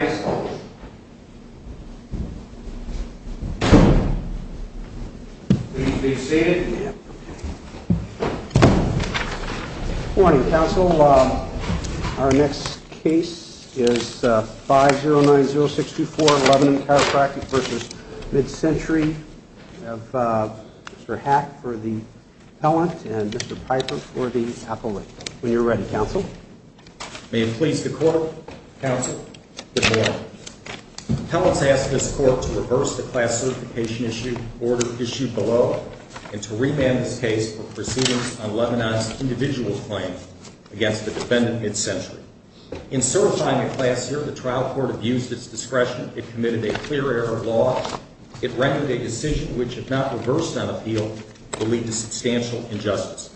Good morning, counsel. Our next case is 5090624, Lebanon Chiropractic v. Mid-Century. We have Mr. Hack for the appellant and Mr. Piper for the appellant. When you're ready, counsel. May it please the court, counsel, good morning. Appellants ask this court to reverse the class certification order issued below and to remand this case for proceedings on Lebanon's individual claim against the defendant, Mid-Century. In certifying a class here, the trial court abused its discretion. It committed a clear error of law. It rendered a decision which, if not reversed on appeal, will lead to substantial injustice.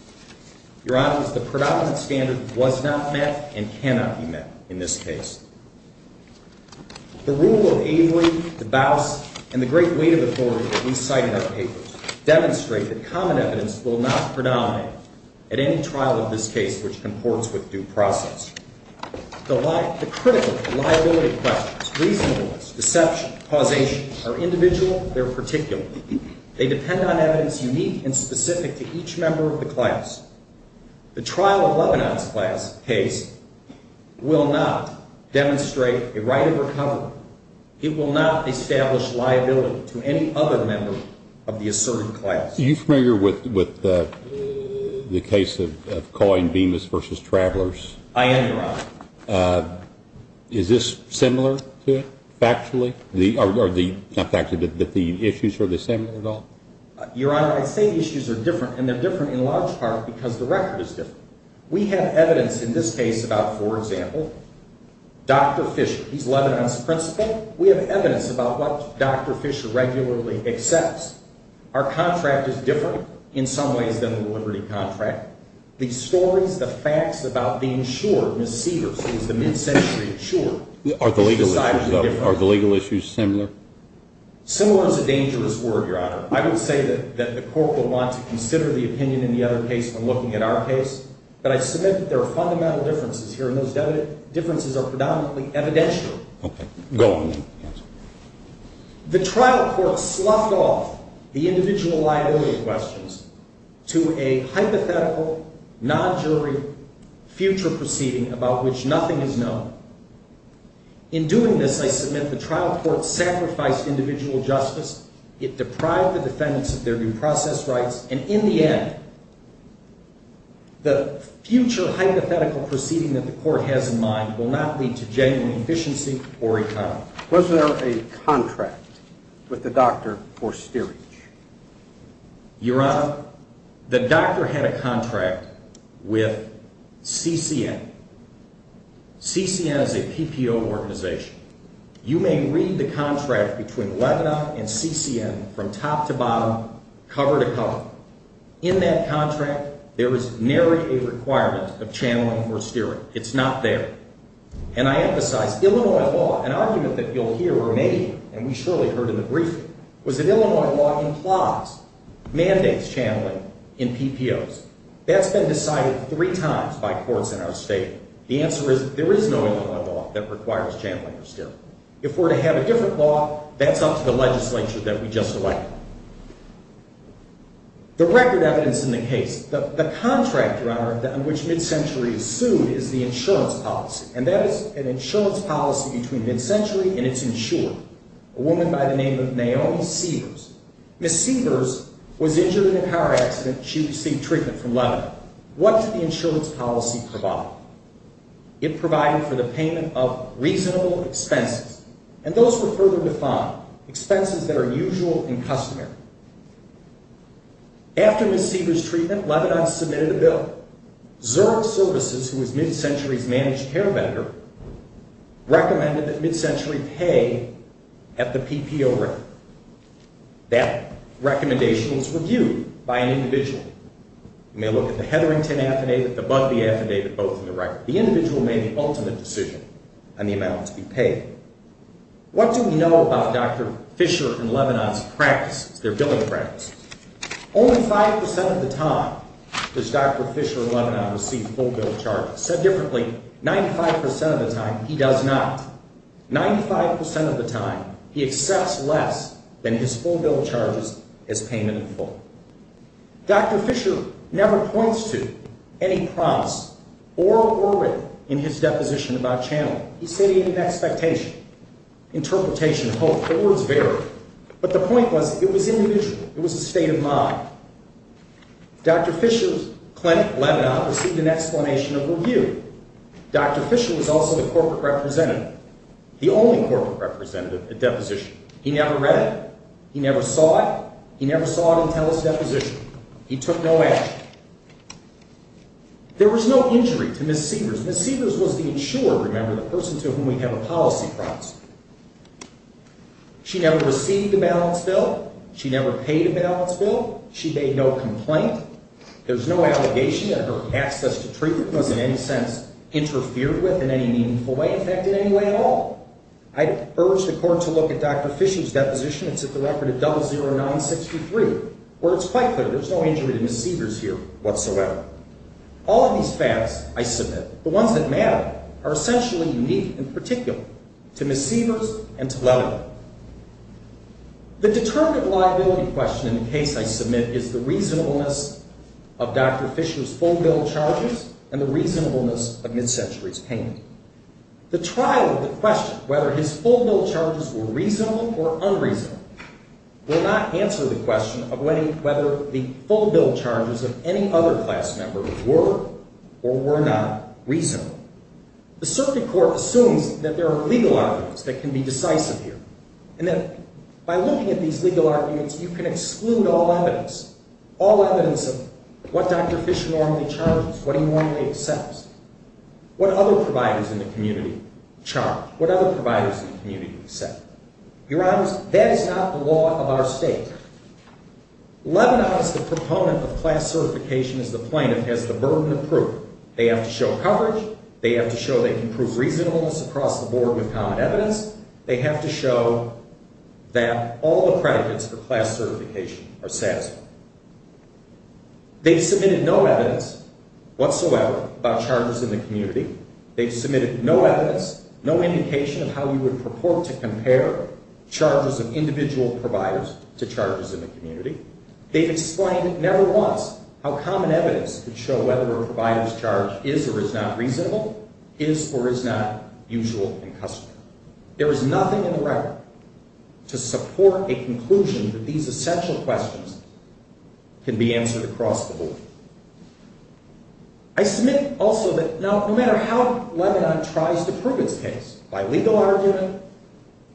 Your Honor, the predominant standard was not met and cannot be met in this case. The rule of Avery, DeBose, and the great weight of the authority that we cite in our papers demonstrate that common evidence will not predominate at any trial of this case which comports with due process. The critical liability questions, reasonableness, deception, causation, are individual. They're particular. They depend on evidence unique and specific to each member of the class. The trial of Lebanon's case will not demonstrate a right of recovery. It will not establish liability to any other member of the asserted class. Are you familiar with the case of Coyne, Bemis v. Travelers? I am, Your Honor. Is this similar to it, factually? Or not factually, but the issues, are they similar at all? Your Honor, I say the issues are different, and they're different in large part because the record is different. We have evidence in this case about, for example, Dr. Fisher. He's Lebanon's principal. We have evidence about what Dr. Fisher regularly accepts. Our contract is different in some ways than the Liberty contract. The stories, the facts about the insured, Ms. Severs is the mid-century insured. Are the legal issues similar? Similar is a dangerous word, Your Honor. I would say that the court will want to consider the opinion in the other case when looking at our case, but I submit that there are fundamental differences here, and those differences are predominantly evidential. Okay, go on then. The trial court sloughed off the individual liability questions to a hypothetical, non-jury, future proceeding about which nothing is known. In doing this, I submit the trial court sacrificed individual justice. It deprived the defendants of their due process rights, and in the end, the future hypothetical proceeding that the court has in mind will not lead to genuine efficiency or economy. Was there a contract with the doctor for steerage? Your Honor, the doctor had a contract with CCN. CCN is a PPO organization. You may read the contract between Lebanon and CCN from top to bottom, cover to cover. In that contract, there is nary a requirement of channeling or steering. It's not there. And I emphasize Illinois law, an argument that you'll hear or may hear, and we surely heard in the briefing, was that Illinois law implies mandates channeling in PPOs. That's been decided three times by courts in our state. The answer is there is no Illinois law that requires channeling or steering. If we're to have a different law, that's up to the legislature that we just elected. The record evidence in the case, the contract, Your Honor, on which MidCentury is sued is the insurance policy, and that is an insurance policy between MidCentury and its insurer, a woman by the name of Naomi Sievers. Ms. Sievers was injured in a car accident. She received treatment from Lebanon. What did the insurance policy provide? It provided for the payment of reasonable expenses, and those were further defined, expenses that are usual and customary. After Ms. Sievers' treatment, Lebanon submitted a bill. Zurich Services, who is MidCentury's managed care vendor, recommended that MidCentury pay at the PPO rate. That recommendation was reviewed by an individual. You may look at the Hetherington affidavit, the Budbee affidavit, both in the record. The individual made the ultimate decision on the amount to be paid. What do we know about Dr. Fisher and Lebanon's practices, their billing practices? Only 5% of the time does Dr. Fisher and Lebanon receive full bill charges. Said differently, 95% of the time, he does not. 95% of the time, he accepts less than his full bill charges as payment in full. Dr. Fisher never points to any prompts, oral or written, in his deposition about channeling. He's stating an expectation, interpretation, hope. The words vary. But the point was, it was individual. It was a state of mind. Dr. Fisher's clinic, Lebanon, received an explanation of review. Dr. Fisher was also the corporate representative, the only corporate representative at deposition. He never read it. He never saw it. He never saw it until his deposition. He took no action. There was no injury to Ms. Severs. Ms. Severs was the insurer, remember, the person to whom we have a policy promise. She never received a balance bill. She never paid a balance bill. She made no complaint. There's no allegation that her access to treatment was in any sense interfered with in any meaningful way, in fact, in any way at all. I'd urge the court to look at Dr. Fisher's deposition. It's at the record of 00963, where it's quite clear there's no injury to Ms. Severs here whatsoever. All of these facts, I submit, the ones that matter, are essentially unique and particular to Ms. Severs and to Lebanon. The determinative liability question in the case I submit is the reasonableness of Dr. Fisher's full bill charges and the reasonableness of MidCentury's payment. The trial of the question, whether his full bill charges were reasonable or unreasonable, will not answer the question of whether the full bill charges of any other class member were or were not reasonable. The circuit court assumes that there are legal arguments that can be decisive here, and that by looking at these legal arguments, you can exclude all evidence, all evidence of what Dr. Fisher normally charges, what he normally accepts, what other providers in the community charge, what other providers in the community accept. Your Honors, that is not the law of our state. Lebanon is the proponent of class certification as the plaintiff has the burden of proof. They have to show coverage. They have to show they can prove reasonableness across the board with common evidence. They have to show that all the predicates for class certification are satisfied. They've submitted no evidence whatsoever about charges in the community. They've submitted no evidence, no indication of how you would purport to compare charges of individual providers to charges in the community. They've explained never once how common evidence could show whether a provider's charge is or is not reasonable, is or is not usual and customary. There is nothing in the record to support a conclusion that these essential questions can be answered across the board. I submit also that no matter how Lebanon tries to prove its case, by legal argument,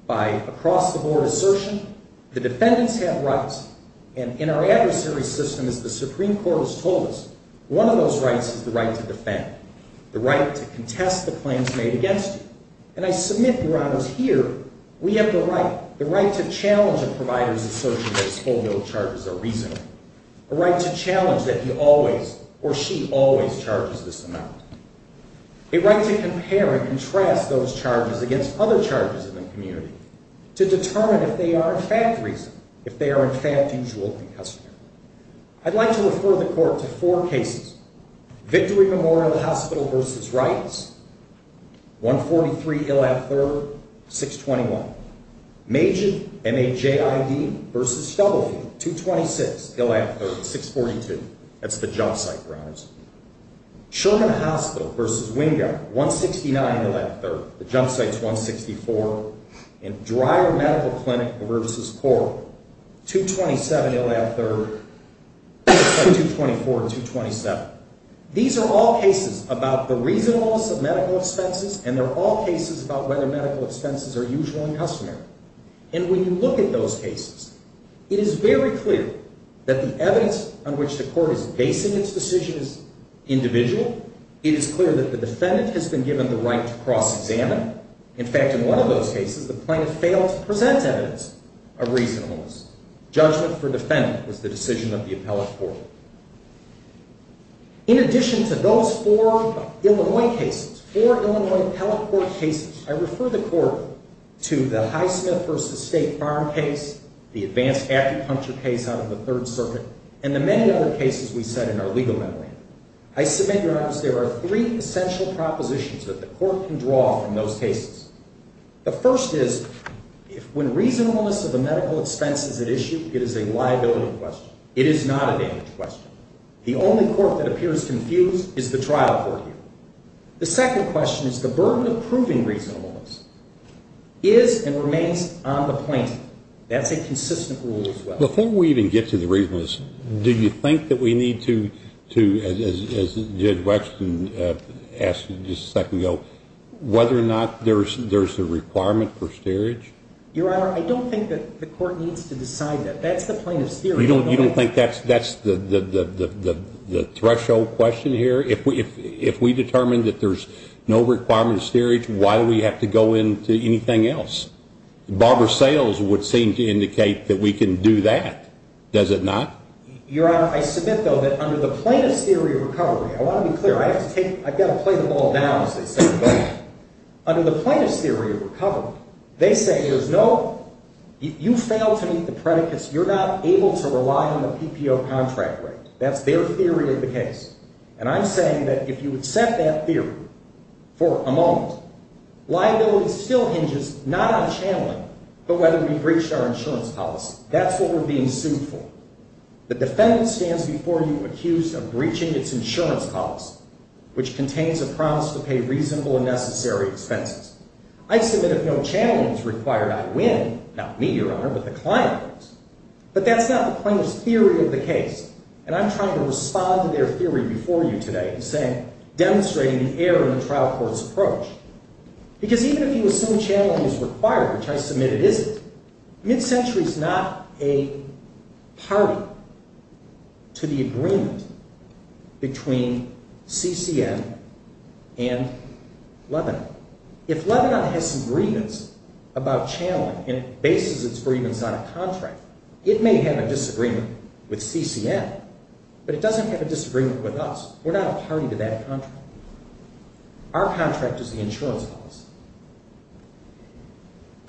by across-the-board assertion, the defendants have rights. And in our adversary system, as the Supreme Court has told us, one of those rights is the right to defend, the right to contest the claims made against you. And I submit, Your Honors, here we have the right, the right to challenge a provider's assertion that his whole bill of charges are reasonable, a right to challenge that he always or she always charges this amount, a right to compare and contrast those charges against other charges in the community to determine if they are in fact reasonable, if they are in fact usual and customary. I'd like to refer the Court to four cases. Victory Memorial Hospital v. Wrights, 143 Ilad 3rd, 621. Major MAJID v. W, 226 Ilad 3rd, 642. That's the jump site, Your Honors. Sherman Hospital v. Wingard, 169 Ilad 3rd. The jump site's 164. And Dreyer Medical Clinic v. Corp., 227 Ilad 3rd, 224 and 227. These are all cases about the reasonableness of medical expenses, and they're all cases about whether medical expenses are usual and customary. And when you look at those cases, it is very clear that the evidence on which the Court is basing its decision is individual. It is clear that the defendant has been given the right to cross-examine. In fact, in one of those cases, the plaintiff failed to present evidence of reasonableness. Judgment for defendant was the decision of the appellate court. In addition to those four Illinois cases, four Illinois appellate court cases, I refer the Court to the Highsmith v. State Farm case, the advanced acupuncture case out of the Third Circuit, and the many other cases we set in our legal memory. I submit, Your Honor, there are three essential propositions that the Court can draw from those cases. The first is, when reasonableness of the medical expense is at issue, it is a liability question. It is not a damage question. The only court that appears confused is the trial court here. The second question is, the burden of proving reasonableness is and remains on the plaintiff. That's a consistent rule as well. Before we even get to the reasonableness, do you think that we need to, as Judge Wexton asked just a second ago, whether or not there's a requirement for steerage? Your Honor, I don't think that the Court needs to decide that. That's the plaintiff's theory. You don't think that's the threshold question here? If we determine that there's no requirement of steerage, why do we have to go into anything else? Barbara Sales would seem to indicate that we can do that. Does it not? Your Honor, I submit, though, that under the plaintiff's theory of recovery, I want to be clear. I've got to play the ball down, as they say. Under the plaintiff's theory of recovery, they say there's no, if you fail to meet the predicates, you're not able to rely on the PPO contract rate. That's their theory of the case. And I'm saying that if you accept that theory for a moment, liability still hinges not on channeling, but whether we breached our insurance policy. That's what we're being sued for. The defendant stands before you accused of breaching its insurance policy, which contains a promise to pay reasonable and necessary expenses. I submit if no channeling is required, I win. Not me, Your Honor, but the client wins. But that's not the plaintiff's theory of the case. And I'm trying to respond to their theory before you today, demonstrating the error in the trial court's approach. Because even if you assume channeling is required, which I submit it isn't, mid-century is not a party to the agreement between CCM and Lebanon. If Lebanon has some grievance about channeling and bases its grievance on a contract, it may have a disagreement with CCM, but it doesn't have a disagreement with us. We're not a party to that contract. Our contract is the insurance policy.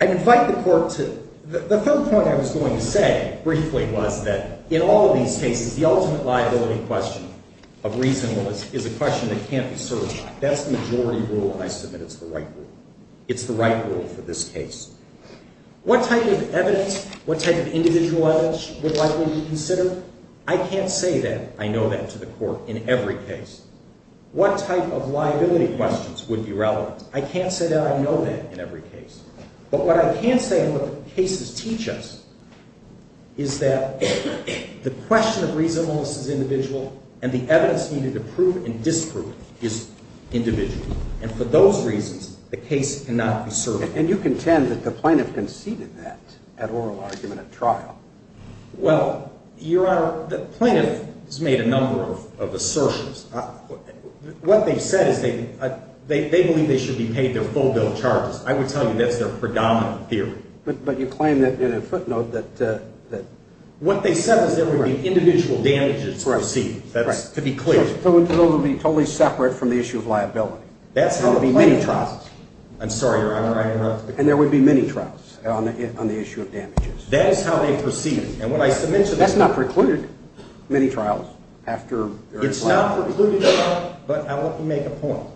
I invite the court to the third point I was going to say briefly was that in all of these cases, the ultimate liability question of reasonableness is a question that can't be served. That's the majority rule, and I submit it's the right rule. It's the right rule for this case. What type of evidence, what type of individual evidence would likely be considered? I can't say that I know that to the court in every case. What type of liability questions would be relevant? I can't say that I know that in every case. But what I can say and what the cases teach us is that the question of reasonableness is individual and the evidence needed to prove and disprove it is individual. And for those reasons, the case cannot be served. And you contend that the plaintiff conceded that at oral argument at trial. Well, Your Honor, the plaintiff has made a number of assertions. What they've said is they believe they should be paid their full bill of charges. I would tell you that's their predominant theory. But you claim that in a footnote that… What they said is there would be individual damages received. That's to be clear. So those would be totally separate from the issue of liability. That's how the plaintiff… There would be many trials. I'm sorry, Your Honor. And there would be many trials on the issue of damages. That is how they proceed. And what I submit to this… That's not precluded, many trials after… It's not precluded, Your Honor, but I want to make a point.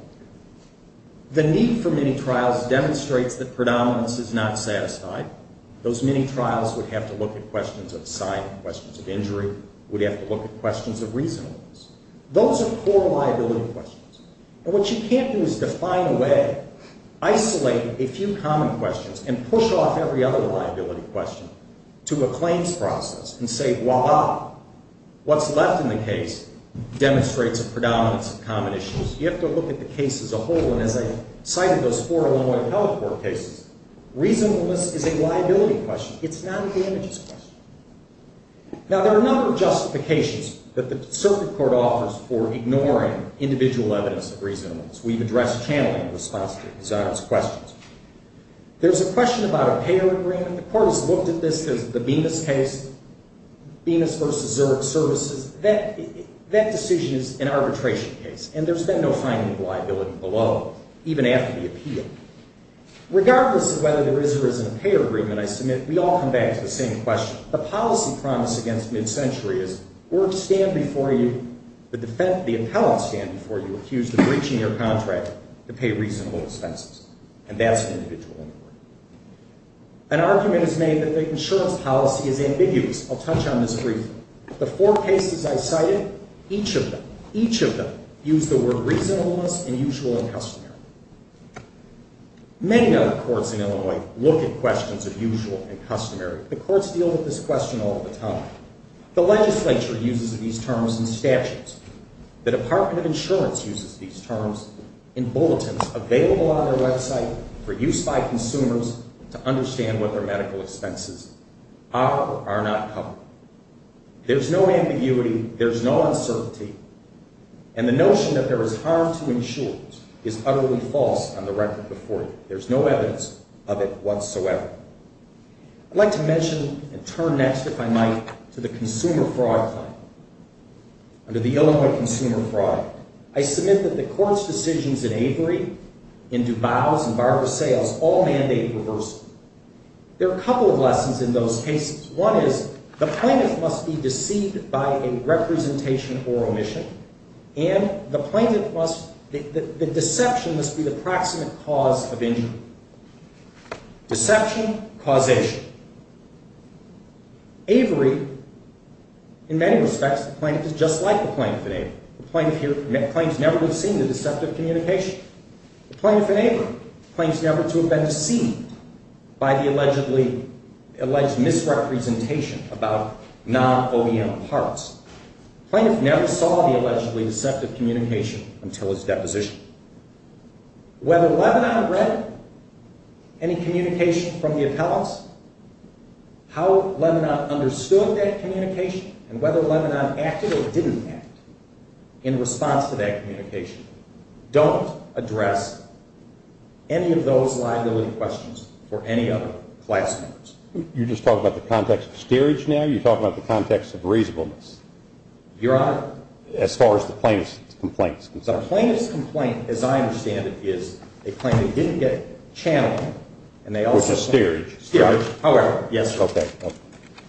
The need for many trials demonstrates that predominance is not satisfied. Those many trials would have to look at questions of sign, questions of injury, would have to look at questions of reasonableness. Those are poor liability questions. And what you can't do is define a way, isolate a few common questions, and push off every other liability question to a claims process and say, voila, what's left in the case demonstrates a predominance of common issues. You have to look at the case as a whole, and as I cited those four Illinois health court cases. Reasonableness is a liability question. It's not a damages question. Now, there are a number of justifications that the circuit court offers for ignoring individual evidence of reasonableness. We've addressed channeling in response to these questions. There's a question about a payer agreement. The court has looked at this. There's the Bemis case, Bemis v. Zurich Services. That decision is an arbitration case, and there's been no finding of liability below, even after the appeal. Regardless of whether there is or isn't a payer agreement, I submit, we all come back to the same question. The policy promise against mid-century is work stand before you, the appellant stand before you, accused of breaching their contract to pay reasonable expenses, and that's an individual inquiry. An argument is made that the insurance policy is ambiguous. I'll touch on this briefly. The four cases I cited, each of them, each of them, use the word reasonableness and usual and customary. Many other courts in Illinois look at questions of usual and customary. The courts deal with this question all the time. The legislature uses these terms in statutes. The Department of Insurance uses these terms in bulletins available on their website for use by consumers to understand what their medical expenses are or are not covered. There's no ambiguity. There's no uncertainty. And the notion that there is harm to insurance is utterly false on the record before you. There's no evidence of it whatsoever. I'd like to mention and turn next, if I might, to the consumer fraud claim. Under the Illinois Consumer Fraud Claim, I submit that the court's decisions in Avery, in DuBose, and Barbara Sayles all mandate reversal. There are a couple of lessons in those cases. One is the plaintiff must be deceived by a representation or omission, and the plaintiff must, the deception must be the proximate cause of injury. Deception, causation. Avery, in many respects, the plaintiff is just like the plaintiff in Avery. The plaintiff here claims never to have seen the deceptive communication. The plaintiff in Avery claims never to have been deceived by the alleged misrepresentation about non-OEM parts. The plaintiff never saw the allegedly deceptive communication until his deposition. Whether Lebanon read any communication from the appellants, how Lebanon understood that communication, and whether Lebanon acted or didn't act in response to that communication, don't address any of those liability questions for any other class members. You're just talking about the context of steerage now? You're talking about the context of reasonableness? Your Honor. As far as the plaintiff's complaints concerned. The plaintiff's complaint, as I understand it, is a claim that didn't get channeled. With a steerage? Steerage, however. Yes, sir. Okay.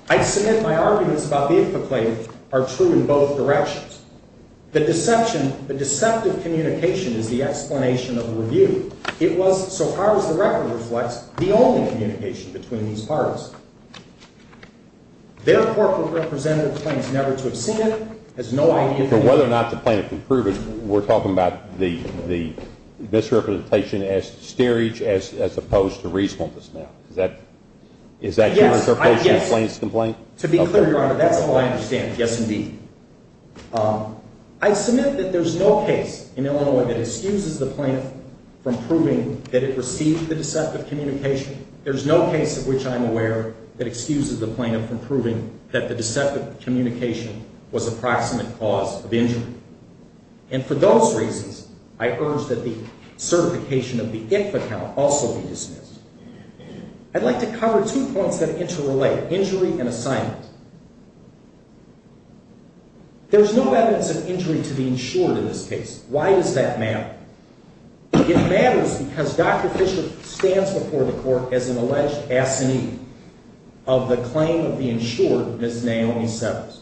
I submit my arguments about the IPCA claim are true in both directions. The deception, the deceptive communication is the explanation of the review. It was, so far as the record reflects, the only communication between these parties. Their corporate representative claims never to have seen it, has no idea. So whether or not the plaintiff can prove it, we're talking about the misrepresentation as steerage as opposed to reasonableness now. Is that your interpretation of the plaintiff's complaint? To be clear, Your Honor, that's all I understand. Yes, indeed. I submit that there's no case in Illinois that excuses the plaintiff from proving that it received the deceptive communication. There's no case of which I'm aware that excuses the plaintiff from proving that the deceptive communication was a proximate cause of injury. And for those reasons, I urge that the certification of the IF account also be dismissed. I'd like to cover two points that interrelate, injury and assignment. There's no evidence of injury to be ensured in this case. Why does that matter? It matters because Dr. Fisher stands before the court as an alleged assinee of the claim of the insured Ms. Naomi Severs.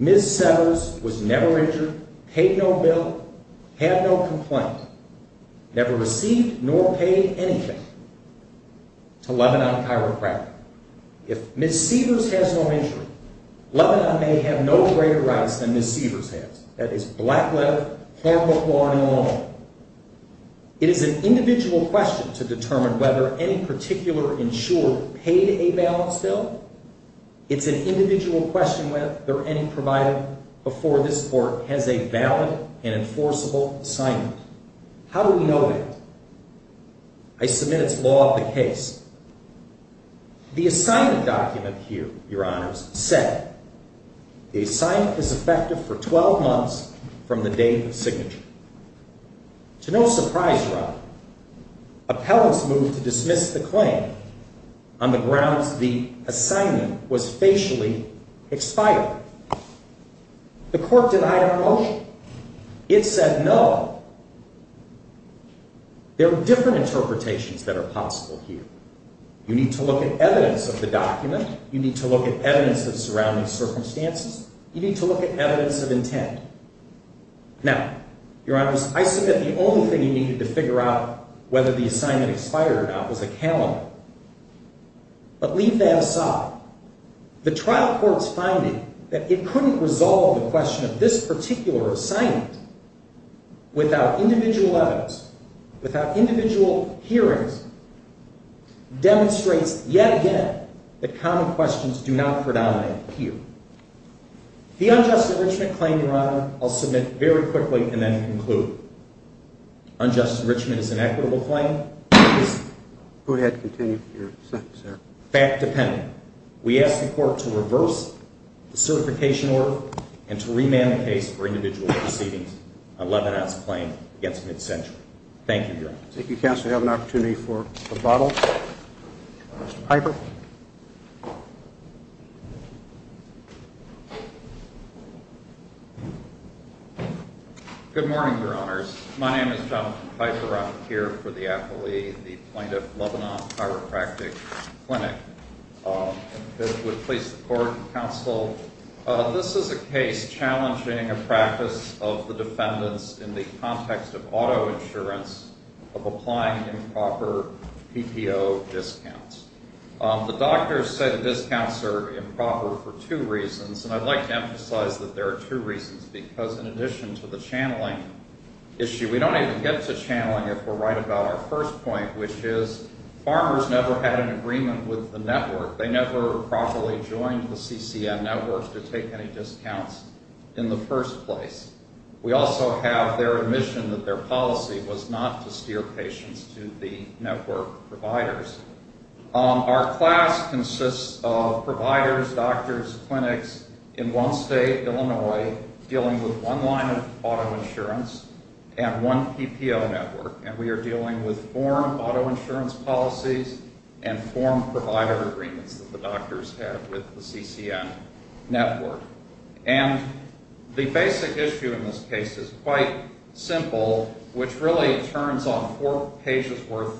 Ms. Severs was never injured, paid no bill, had no complaint, never received nor paid anything to Lebanon Chiropractic. If Ms. Severs has no injury, Lebanon may have no greater rights than Ms. Severs has. That is black leather, harmful clawing in law. It is an individual question to determine whether any particular insurer paid a balance bill. It's an individual question whether any provider before this court has a valid and enforceable assignment. How do we know that? I submit it's law of the case. The assignment document here, Your Honors, said, The assignment is effective for 12 months from the date of signature. To no surprise, Your Honor, appellants moved to dismiss the claim on the grounds the assignment was facially expired. The court denied our motion. It said no. There are different interpretations that are possible here. You need to look at evidence of the document. You need to look at evidence of surrounding circumstances. You need to look at evidence of intent. Now, Your Honors, I submit the only thing you needed to figure out whether the assignment expired or not was a calendar. But leave that aside. The trial court's finding that it couldn't resolve the question of this particular assignment without individual evidence, without individual hearings, demonstrates yet again that common questions do not predominate here. The unjust enrichment claim, Your Honor, I'll submit very quickly and then conclude. Unjust enrichment is an equitable claim. Go ahead. Continue. Fact-dependent. We ask the court to reverse the certification order and to remand the case for individual proceedings Thank you, Your Honors. Thank you, counsel. We have an opportunity for rebuttal. Mr. Piper. Good morning, Your Honors. My name is Jonathan Piper. I'm here for the affilee, the Plaintiff Lebanon Chiropractic Clinic. I would please support counsel. This is a case challenging a practice of the defendants in the context of auto insurance of applying improper PPO discounts. The doctors said the discounts are improper for two reasons, and I'd like to emphasize that there are two reasons, because in addition to the channeling issue, we don't even get to channeling if we're right about our first point, which is farmers never had an agreement with the network. They never properly joined the CCM networks to take any discounts in the first place. We also have their admission that their policy was not to steer patients to the network providers. Our class consists of providers, doctors, clinics in one state, Illinois, dealing with one line of auto insurance and one PPO network, and we are dealing with form auto insurance policies and form provider agreements that the doctors have with the CCM network. And the basic issue in this case is quite simple, which really turns on four pages' worth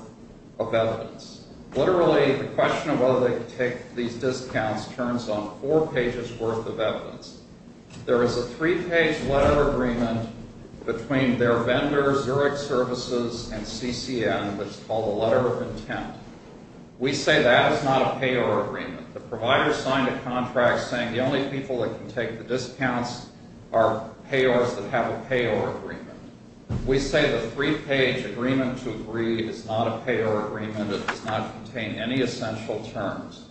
of evidence. Literally, the question of whether they can take these discounts turns on four pages' worth of evidence. There is a three-page letter of agreement between their vendors, Zurich Services, and CCM, which is called a letter of intent. We say that is not a payor agreement. The provider signed a contract saying the only people that can take the discounts are payors that have a payor agreement. We say the three-page agreement to agree is not a payor agreement. It does not contain any essential terms.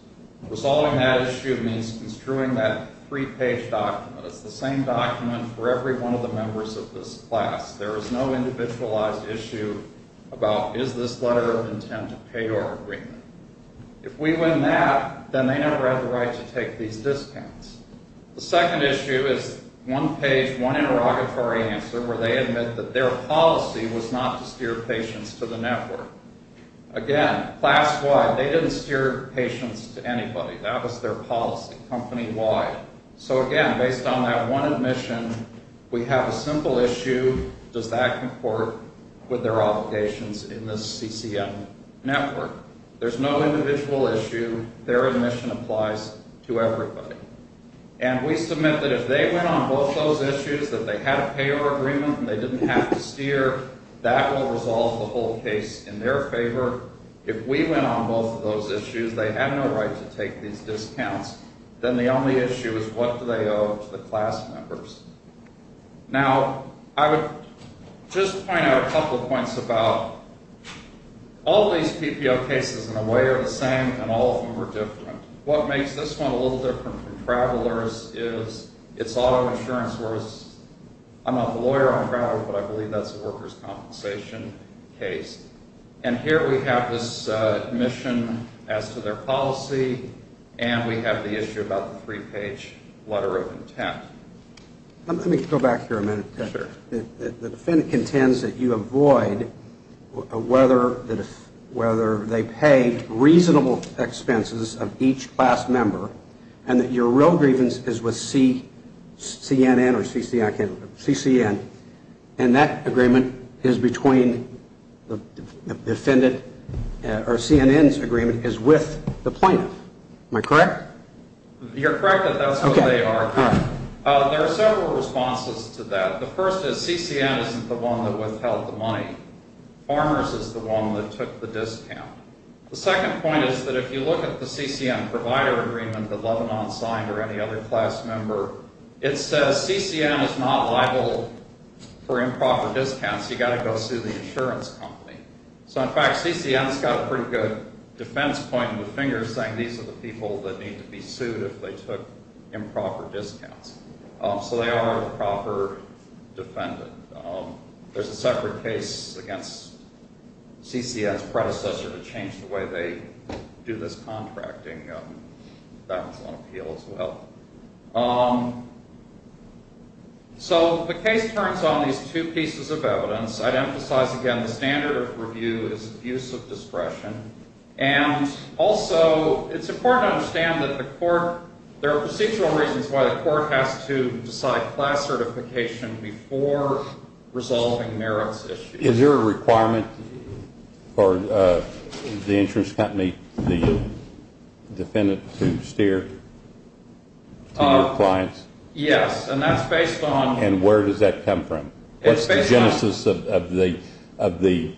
Resolving that issue means construing that three-page document. It's the same document for every one of the members of this class. There is no individualized issue about is this letter of intent a payor agreement. If we win that, then they never have the right to take these discounts. The second issue is one page, one interrogatory answer where they admit that their policy was not to steer patients to the network. Again, class-wide, they didn't steer patients to anybody. That was their policy, company-wide. So, again, based on that one admission, we have a simple issue. Does that comport with their obligations in this CCM network? There's no individual issue. Their admission applies to everybody. And we submit that if they went on both those issues, that they had a payor agreement and they didn't have to steer, that will resolve the whole case in their favor. If we went on both of those issues, they had no right to take these discounts. Then the only issue is what do they owe to the class members. Now, I would just point out a couple of points about all these PPO cases, in a way, are the same, and all of them are different. What makes this one a little different from Travelers is it's auto insurance. I'm not the lawyer on Travelers, but I believe that's a workers' compensation case. And here we have this admission as to their policy, and we have the issue about the three-page letter of intent. Let me go back here a minute. The defendant contends that you avoid whether they pay reasonable expenses of each class member and that your real grievance is with CCN, and that agreement is between the defendant or CNN's agreement is with the plaintiff. Am I correct? You're correct that that's what they are. There are several responses to that. The first is CCN isn't the one that withheld the money. Farmers is the one that took the discount. The second point is that if you look at the CCN provider agreement that Lebanon signed or any other class member, it says CCN is not liable for improper discounts. You've got to go sue the insurance company. So, in fact, CCN has got a pretty good defense point in the fingers, saying these are the people that need to be sued if they took improper discounts. So they are a proper defendant. There's a separate case against CCN's predecessor to change the way they do this contracting. That's on appeal as well. So the case turns on these two pieces of evidence. I'd emphasize again the standard of review is abuse of discretion, and also it's important to understand that there are procedural reasons why the court has to decide class certification before resolving merits issues. Is there a requirement for the insurance company, the defendant, to steer to your clients? Yes, and that's based on. And where does that come from? It's based on. What's the genesis of the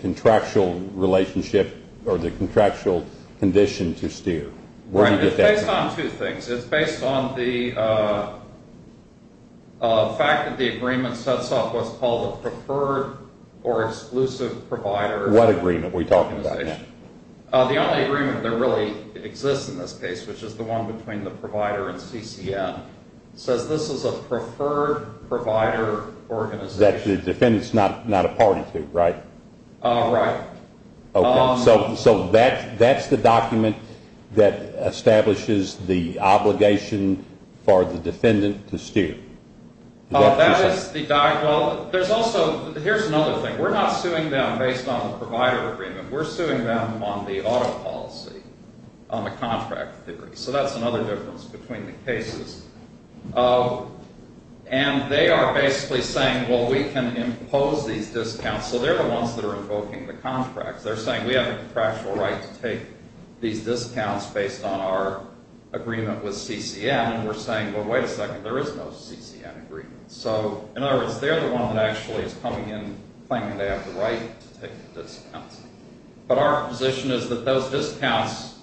contractual relationship or the contractual condition to steer? It's based on two things. It's based on the fact that the agreement sets up what's called a preferred or exclusive provider. What agreement are we talking about now? The only agreement that really exists in this case, which is the one between the provider and CCN, says this is a preferred provider organization. That the defendant is not a party to, right? Right. So that's the document that establishes the obligation for the defendant to steer. That is the document. There's also, here's another thing. We're not suing them based on the provider agreement. We're suing them on the auto policy, on the contract theory. So that's another difference between the cases. And they are basically saying, well, we can impose these discounts. So they're the ones that are invoking the contracts. They're saying we have a contractual right to take these discounts based on our agreement with CCN. And we're saying, well, wait a second, there is no CCN agreement. So, in other words, they're the one that actually is coming in claiming they have the right to take the discounts. But our position is that those discounts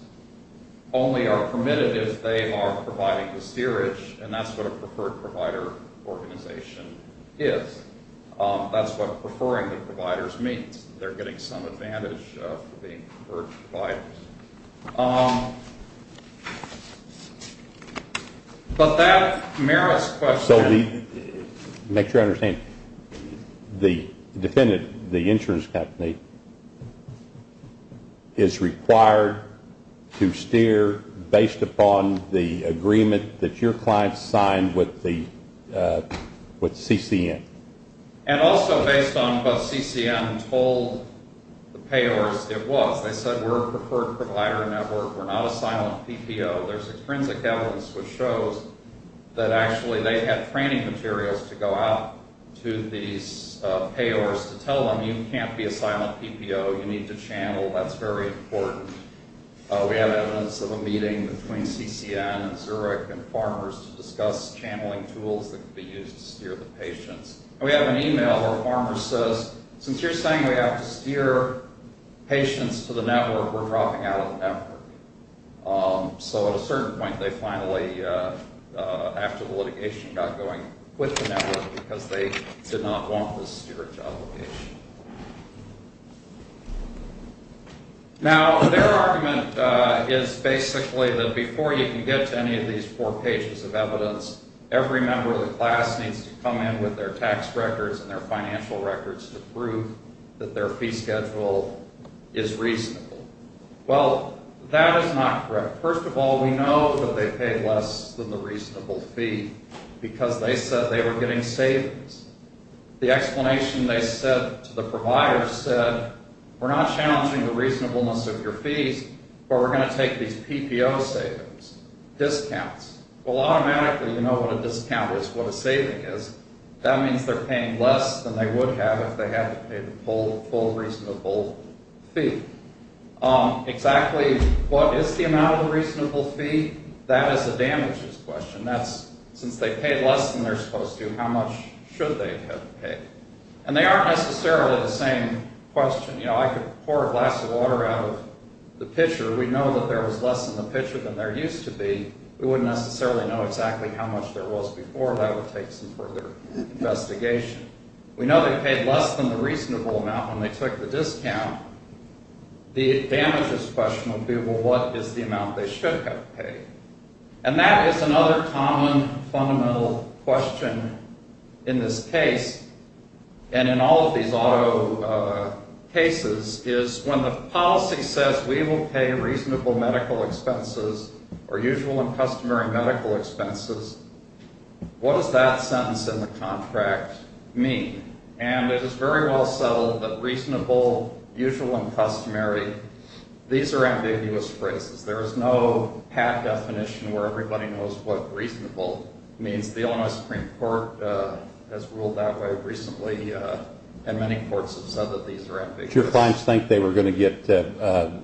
only are permitted if they are providing the steerage, and that's what a preferred provider organization is. That's what preferring the providers means. They're getting some advantage for being preferred providers. But that merits question. Make sure I understand. The defendant, the insurance company, is required to steer based upon the agreement that your client signed with CCN. And also based on what CCN told the payers it was. They said we're a preferred provider network. We're not a silent PPO. There's extrinsic evidence which shows that actually they had training materials to go out to these payers to tell them you can't be a silent PPO. You need to channel. That's very important. We have evidence of a meeting between CCN and Zurich and farmers to discuss channeling tools that could be used to steer the patients. And we have an email where a farmer says, since you're saying we have to steer patients to the network, we're dropping out of the network. So at a certain point, they finally, after the litigation, got going with the network because they did not want the steward job location. Now, their argument is basically that before you can get to any of these four pages of evidence, every member of the class needs to come in with their tax records and their financial records to prove that their fee schedule is reasonable. Well, that is not correct. First of all, we know that they paid less than the reasonable fee because they said they were getting savings. The explanation they said to the provider said, we're not challenging the reasonableness of your fees, but we're going to take these PPO savings, discounts. Well, automatically, you know what a discount is, what a saving is. That means they're paying less than they would have if they had to pay the full reasonable fee. Exactly what is the amount of the reasonable fee? That is a damages question. That's since they paid less than they're supposed to, how much should they have paid? And they aren't necessarily the same question. You know, I could pour a glass of water out of the pitcher. We know that there was less in the pitcher than there used to be. We wouldn't necessarily know exactly how much there was before. That would take some further investigation. We know they paid less than the reasonable amount when they took the discount. The damages question would be, well, what is the amount they should have paid? And that is another common fundamental question in this case and in all of these auto cases is when the policy says we will pay reasonable medical expenses or usual and customary medical expenses, what does that sentence in the contract mean? And it is very well settled that reasonable, usual, and customary, these are ambiguous phrases. There is no hat definition where everybody knows what reasonable means. The Illinois Supreme Court has ruled that way recently, and many courts have said that these are ambiguous. Did your clients think they were going to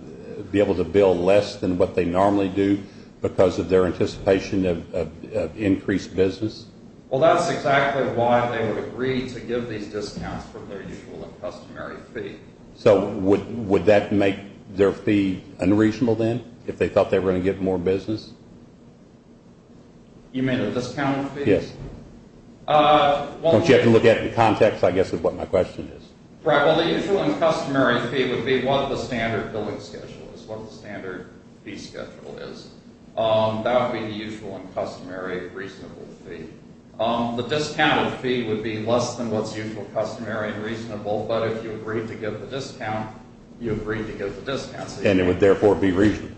be able to bill less than what they normally do because of their anticipation of increased business? Well, that's exactly why they would agree to give these discounts for their usual and customary fee. So would that make their fee unreasonable then if they thought they were going to get more business? You mean a discount fee? Yes. Don't you have to look at it in context, I guess, is what my question is. Right, well, the usual and customary fee would be what the standard billing schedule is, what the standard fee schedule is. That would be the usual and customary reasonable fee. The discounted fee would be less than what's usual, customary, and reasonable, but if you agreed to give the discount, you agreed to give the discount. And it would therefore be reasonable.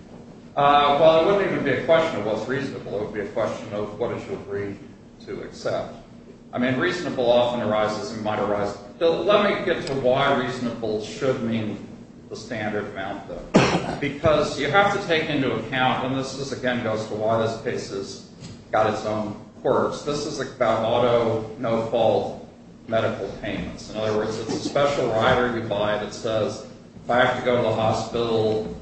Well, it wouldn't even be a question of what's reasonable. It would be a question of what did you agree to accept. I mean, reasonable often arises and might arise. Let me get to why reasonable should mean the standard amount, though, because you have to take into account, and this, again, goes to why this case has got its own quirks. This is about auto no-fault medical payments. In other words, it's a special rider you buy that says, if I have to go to the hospital,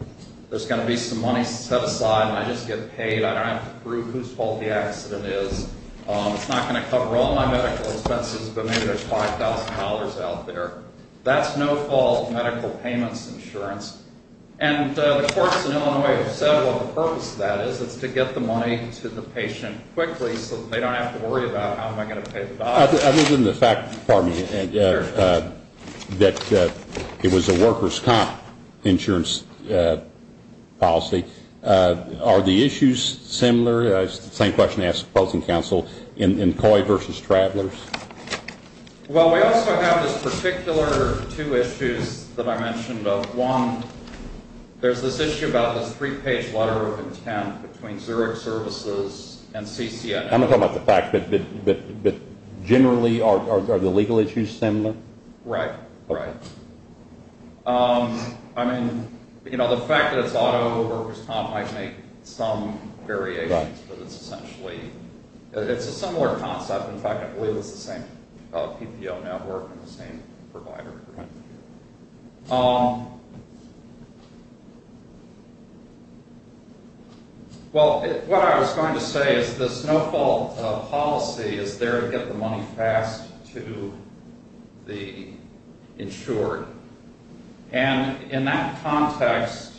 there's going to be some money set aside and I just get paid. I don't have to prove whose fault the accident is. It's not going to cover all my medical expenses, but maybe there's $5,000 out there. That's no-fault medical payments insurance. And the courts in Illinois have said what the purpose of that is. It's to get the money to the patient quickly so that they don't have to worry about how am I going to pay the doctor. Other than the fact, pardon me, that it was a worker's comp insurance policy, are the issues similar? It's the same question I ask opposing counsel in COI versus travelers. Well, we also have this particular two issues that I mentioned. One, there's this issue about this three-page letter of intent between Zurich services and CCNF. I'm not talking about the fact, but generally are the legal issues similar? Right. Right. I mean, you know, the fact that it's autoworkers comp might make some variations, but it's essentially – it's a similar concept. In fact, I believe it's the same PPO network and the same provider. Well, what I was going to say is this no-fault policy is there to get the money fast to the insured. And in that context,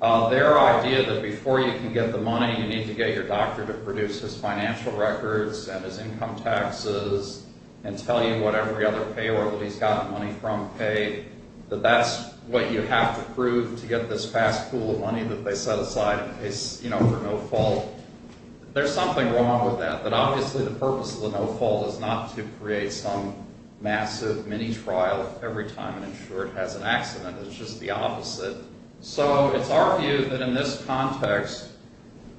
their idea that before you can get the money, you need to get your doctor to produce his financial records and his income taxes and tell you what every other payor that he's gotten money from paid, that that's what you have to prove to get this fast pool of money that they set aside for no fault. There's something wrong with that. But obviously, the purpose of the no-fault is not to create some massive mini-trial every time an insured has an accident. It's just the opposite. So it's our view that in this context,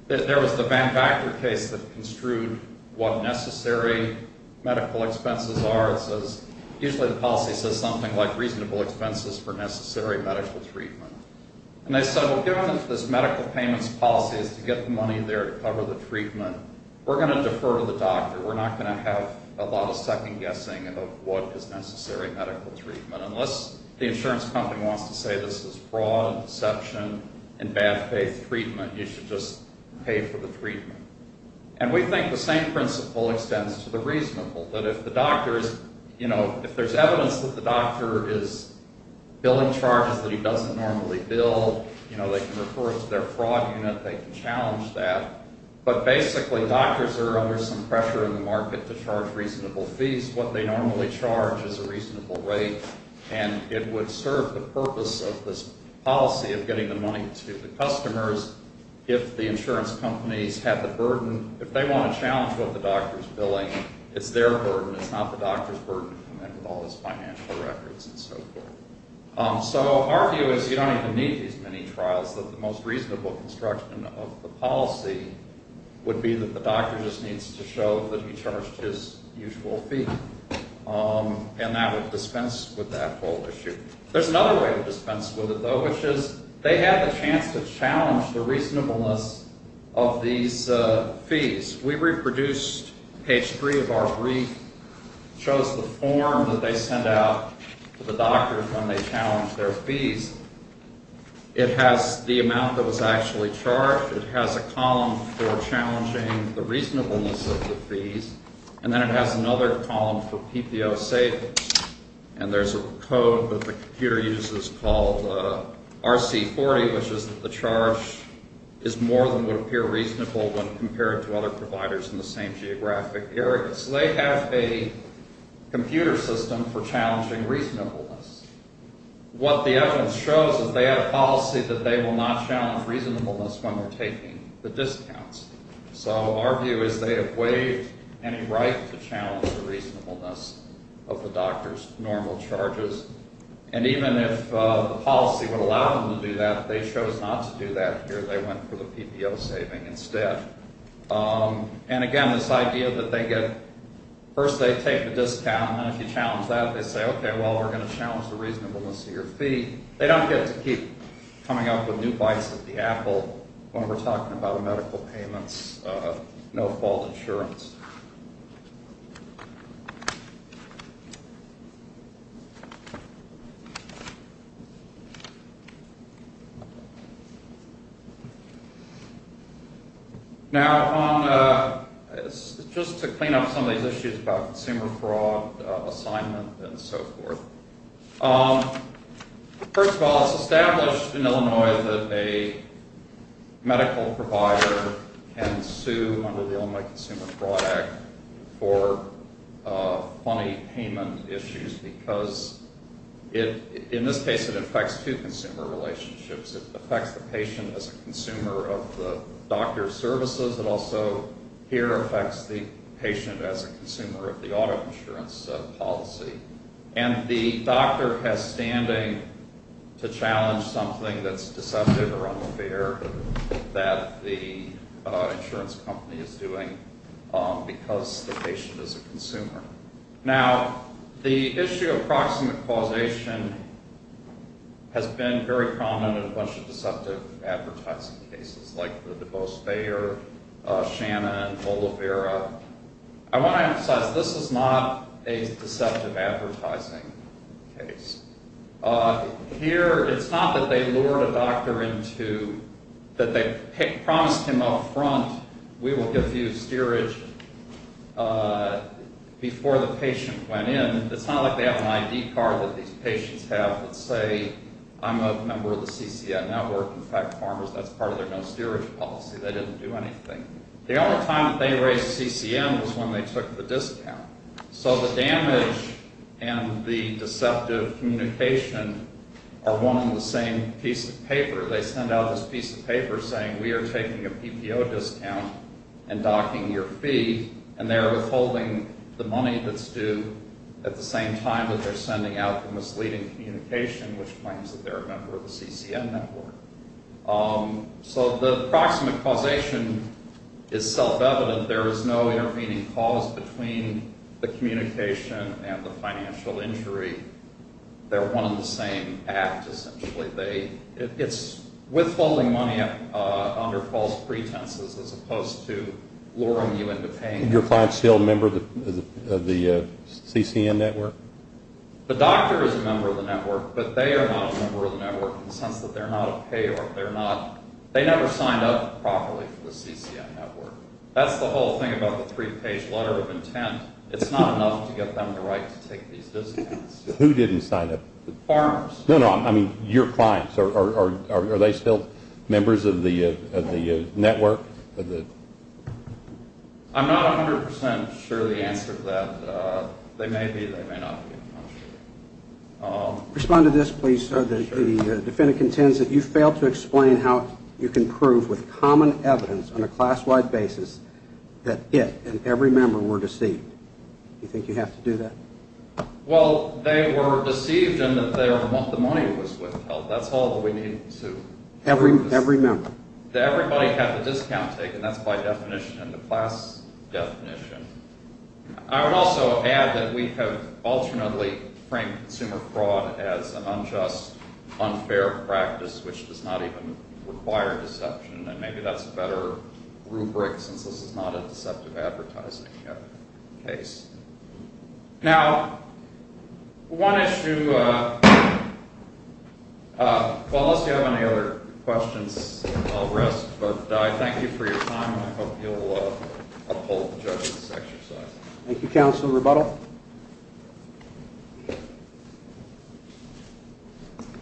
there was the Van Vactor case that construed what necessary medical expenses are. It says – usually the policy says something like reasonable expenses for necessary medical treatment. And they said, well, given that this medical payments policy is to get the money there to cover the treatment, we're going to defer to the doctor. We're not going to have a lot of second-guessing of what is necessary medical treatment. Unless the insurance company wants to say this is fraud and deception and bad faith treatment, you should just pay for the treatment. And we think the same principle extends to the reasonable. That if the doctor is – if there's evidence that the doctor is billing charges that he doesn't normally bill, they can refer it to their fraud unit, they can challenge that. But basically, doctors are under some pressure in the market to charge reasonable fees. What they normally charge is a reasonable rate. And it would serve the purpose of this policy of getting the money to the customers if the insurance companies have the burden. If they want to challenge what the doctor is billing, it's their burden. It's not the doctor's burden to come in with all his financial records and so forth. So our view is you don't even need these many trials. The most reasonable construction of the policy would be that the doctor just needs to show that he charged his usual fee. And that would dispense with that whole issue. There's another way to dispense with it, though, which is they have a chance to challenge the reasonableness of these fees. We reproduced – page 3 of our brief shows the form that they send out to the doctor when they challenge their fees. It has the amount that was actually charged. It has a column for challenging the reasonableness of the fees. And then it has another column for PPO savings. And there's a code that the computer uses called RC40, which is that the charge is more than would appear reasonable when compared to other providers in the same geographic area. So they have a computer system for challenging reasonableness. What the evidence shows is they have a policy that they will not challenge reasonableness when they're taking the discounts. So our view is they have waived any right to challenge the reasonableness of the doctor's normal charges. And even if the policy would allow them to do that, they chose not to do that here. They went for the PPO saving instead. And, again, this idea that they get – first they take the discount. And if you challenge that, they say, okay, well, we're going to challenge the reasonableness of your fee. They don't get to keep coming up with new bites of the apple when we're talking about medical payments, no-fault insurance. Now, just to clean up some of these issues about consumer fraud assignment and so forth, first of all, it's established in Illinois that a medical provider can sue under the Illinois Consumer Fraud Act for money payment issues because in this case it affects two consumer relationships. It affects the patient as a consumer of the doctor's services. It also here affects the patient as a consumer of the auto insurance policy. And the doctor has standing to challenge something that's deceptive or unfair that the insurance company is doing because the patient is a consumer. Now, the issue of proximate causation has been very prominent in a bunch of deceptive advertising cases like the DeVos failure, Shannon, Olivera. I want to emphasize this is not a deceptive advertising case. Here it's not that they lured a doctor into – that they promised him up front we will give you steerage before the patient went in. It's not like they have an ID card that these patients have that say I'm a member of the CCN network. In fact, farmers, that's part of their no-steerage policy. They didn't do anything. The only time that they raised CCN was when they took the discount. So the damage and the deceptive communication are one and the same piece of paper. They send out this piece of paper saying we are taking a PPO discount and docking your fee. And they're withholding the money that's due at the same time that they're sending out the misleading communication, which claims that they're a member of the CCN network. So the proximate causation is self-evident. There is no intervening cause between the communication and the financial injury. They're one and the same act, essentially. It's withholding money under false pretenses as opposed to luring you into paying. Is your client still a member of the CCN network? The doctor is a member of the network, but they are not a member of the network in the sense that they're not a payer. They never signed up properly for the CCN network. That's the whole thing about the three-page letter of intent. It's not enough to get them the right to take these discounts. Who didn't sign up? Farmers. No, no, I mean your clients. Are they still members of the network? I'm not 100% sure of the answer to that. They may be. They may not be. I'm not sure. Respond to this, please, sir. The defendant contends that you failed to explain how you can prove with common evidence on a class-wide basis that it and every member were deceived. Do you think you have to do that? Well, they were deceived in that the money was withheld. That's all that we need to do. Every member. Everybody had the discount taken. That's by definition in the class definition. I would also add that we have alternately framed consumer fraud as an unjust, unfair practice which does not even require deception, and maybe that's a better rubric since this is not a deceptive advertising case. Now, one issue. Well, unless you have any other questions, I'll rest, but I thank you for your time, and I hope you'll uphold the judge's exercise. Thank you, Counsel Rebuttal.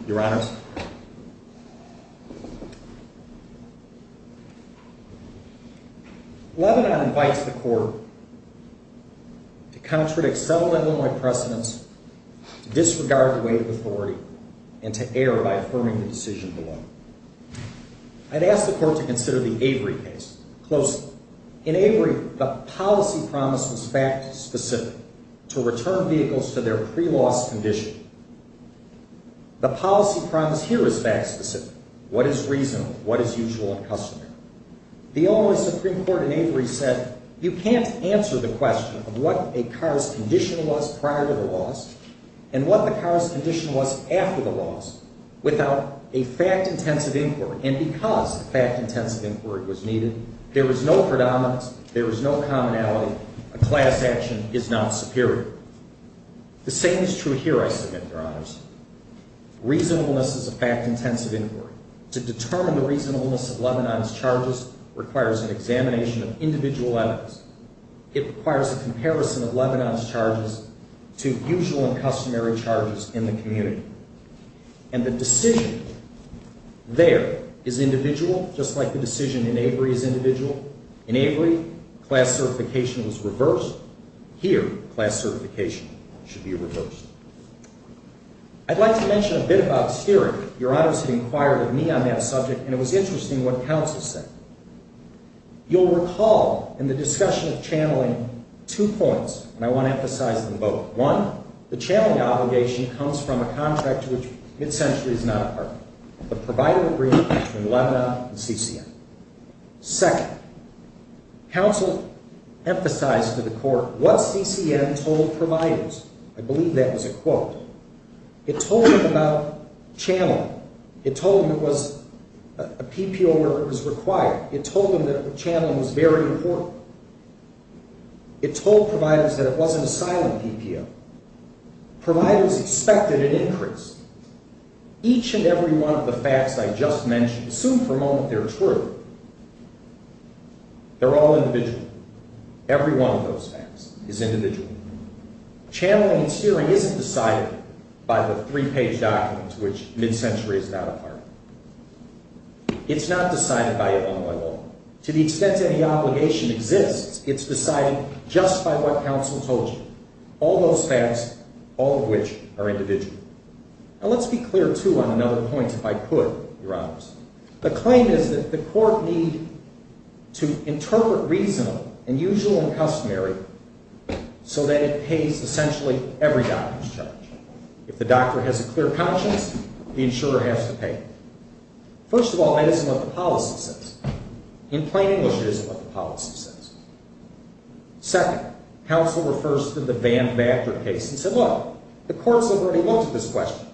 Your Honors. Your Honor, Lebanon invites the court to contradict several Illinois precedents, to disregard the weight of authority, and to err by affirming the decision below. I'd ask the court to consider the Avery case closely. In Avery, the policy promise was fact specific, to return vehicles to their pre-loss condition. The policy promise here is fact specific. What is reasonable? What is usual and customary? The Illinois Supreme Court in Avery said you can't answer the question of what a car's condition was prior to the loss and what the car's condition was after the loss without a fact-intensive inquiry, and because a fact-intensive inquiry was needed, there was no predominance, there was no commonality. A class action is not superior. The same is true here, I submit, Your Honors. Reasonableness is a fact-intensive inquiry. To determine the reasonableness of Lebanon's charges requires an examination of individual evidence. It requires a comparison of Lebanon's charges to usual and customary charges in the community. And the decision there is individual, just like the decision in Avery is individual. In Avery, class certification was reversed. Here, class certification should be reversed. I'd like to mention a bit of obscurity. Your Honors had inquired of me on that subject, and it was interesting what counsel said. You'll recall in the discussion of channeling two points, and I want to emphasize them both. One, the channeling obligation comes from a contract to which Mid-Century is not a partner, the provider agreement between Lebanon and CCM. Second, counsel emphasized to the court what CCM told providers. I believe that was a quote. It told them about channeling. It told them it was a PPO where it was required. It told them that channeling was very important. It told providers that it wasn't a silent PPO. Providers expected an increase. Each and every one of the facts I just mentioned, assume for a moment they're true, they're all individual. Every one of those facts is individual. Channeling and steering isn't decided by the three-page documents which Mid-Century is not a partner. It's not decided by it alone. To the extent any obligation exists, it's decided just by what counsel told you. All those facts, all of which are individual. Now, let's be clear, too, on another point if I could, Your Honors. The claim is that the court need to interpret reasonable and usual and customary so that it pays essentially every doctor's charge. If the doctor has a clear conscience, the insurer has to pay. First of all, that isn't what the policy says. In plain English, it isn't what the policy says. Second, counsel refers to the Van Vactor case and said, Look, the courts have already looked at this question.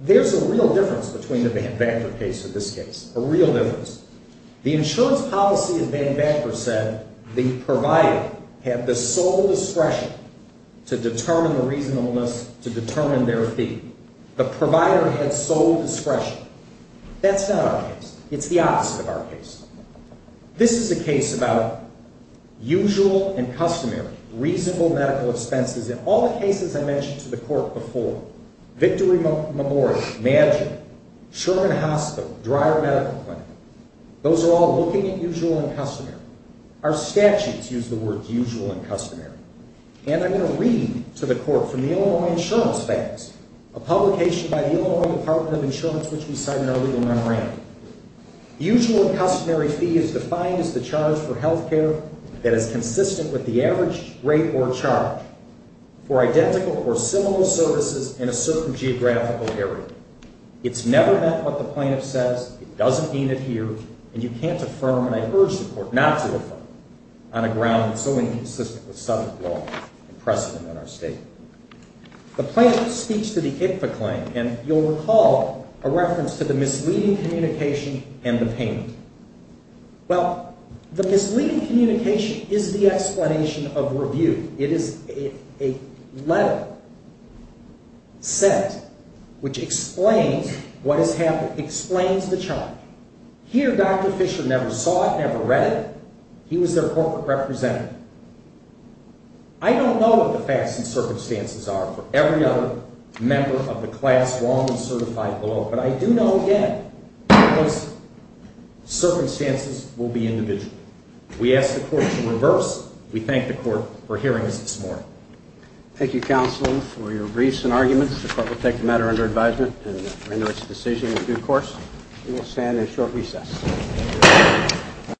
There's a real difference between the Van Vactor case and this case. A real difference. The insurance policy of Van Vactor said the provider had the sole discretion to determine the reasonableness to determine their fee. The provider had sole discretion. That's not our case. It's the opposite of our case. This is a case about usual and customary, reasonable medical expenses. In all the cases I mentioned to the court before, Victory Memorial, Magic, Sherman Hospital, Dreyer Medical Clinic, those are all looking at usual and customary. Our statutes use the words usual and customary. And I'm going to read to the court from the Illinois Insurance Facts, a publication by the Illinois Department of Insurance, which we cite in our legal memorandum. Usual and customary fee is defined as the charge for health care that is consistent with the average rate or charge. For identical or similar services in a certain geographical area. It's never met what the plaintiff says. It doesn't mean it here. And you can't affirm, and I urge the court not to affirm, on a ground that's so inconsistent with subject law and precedent in our state. The plaintiff speaks to the ICPA claim, and you'll recall a reference to the misleading communication and the payment. Well, the misleading communication is the explanation of review. It is a letter set, which explains what has happened, explains the charge. Here, Dr. Fisher never saw it, never read it. He was their corporate representative. I don't know what the facts and circumstances are for every other member of the class wrongly certified below, but I do know, again, those circumstances will be individual. We ask the court to reverse. We thank the court for hearing us this morning. Thank you, counsel, for your briefs and arguments. The court will take the matter under advisement and render its decision in due course. We will stand in short recess.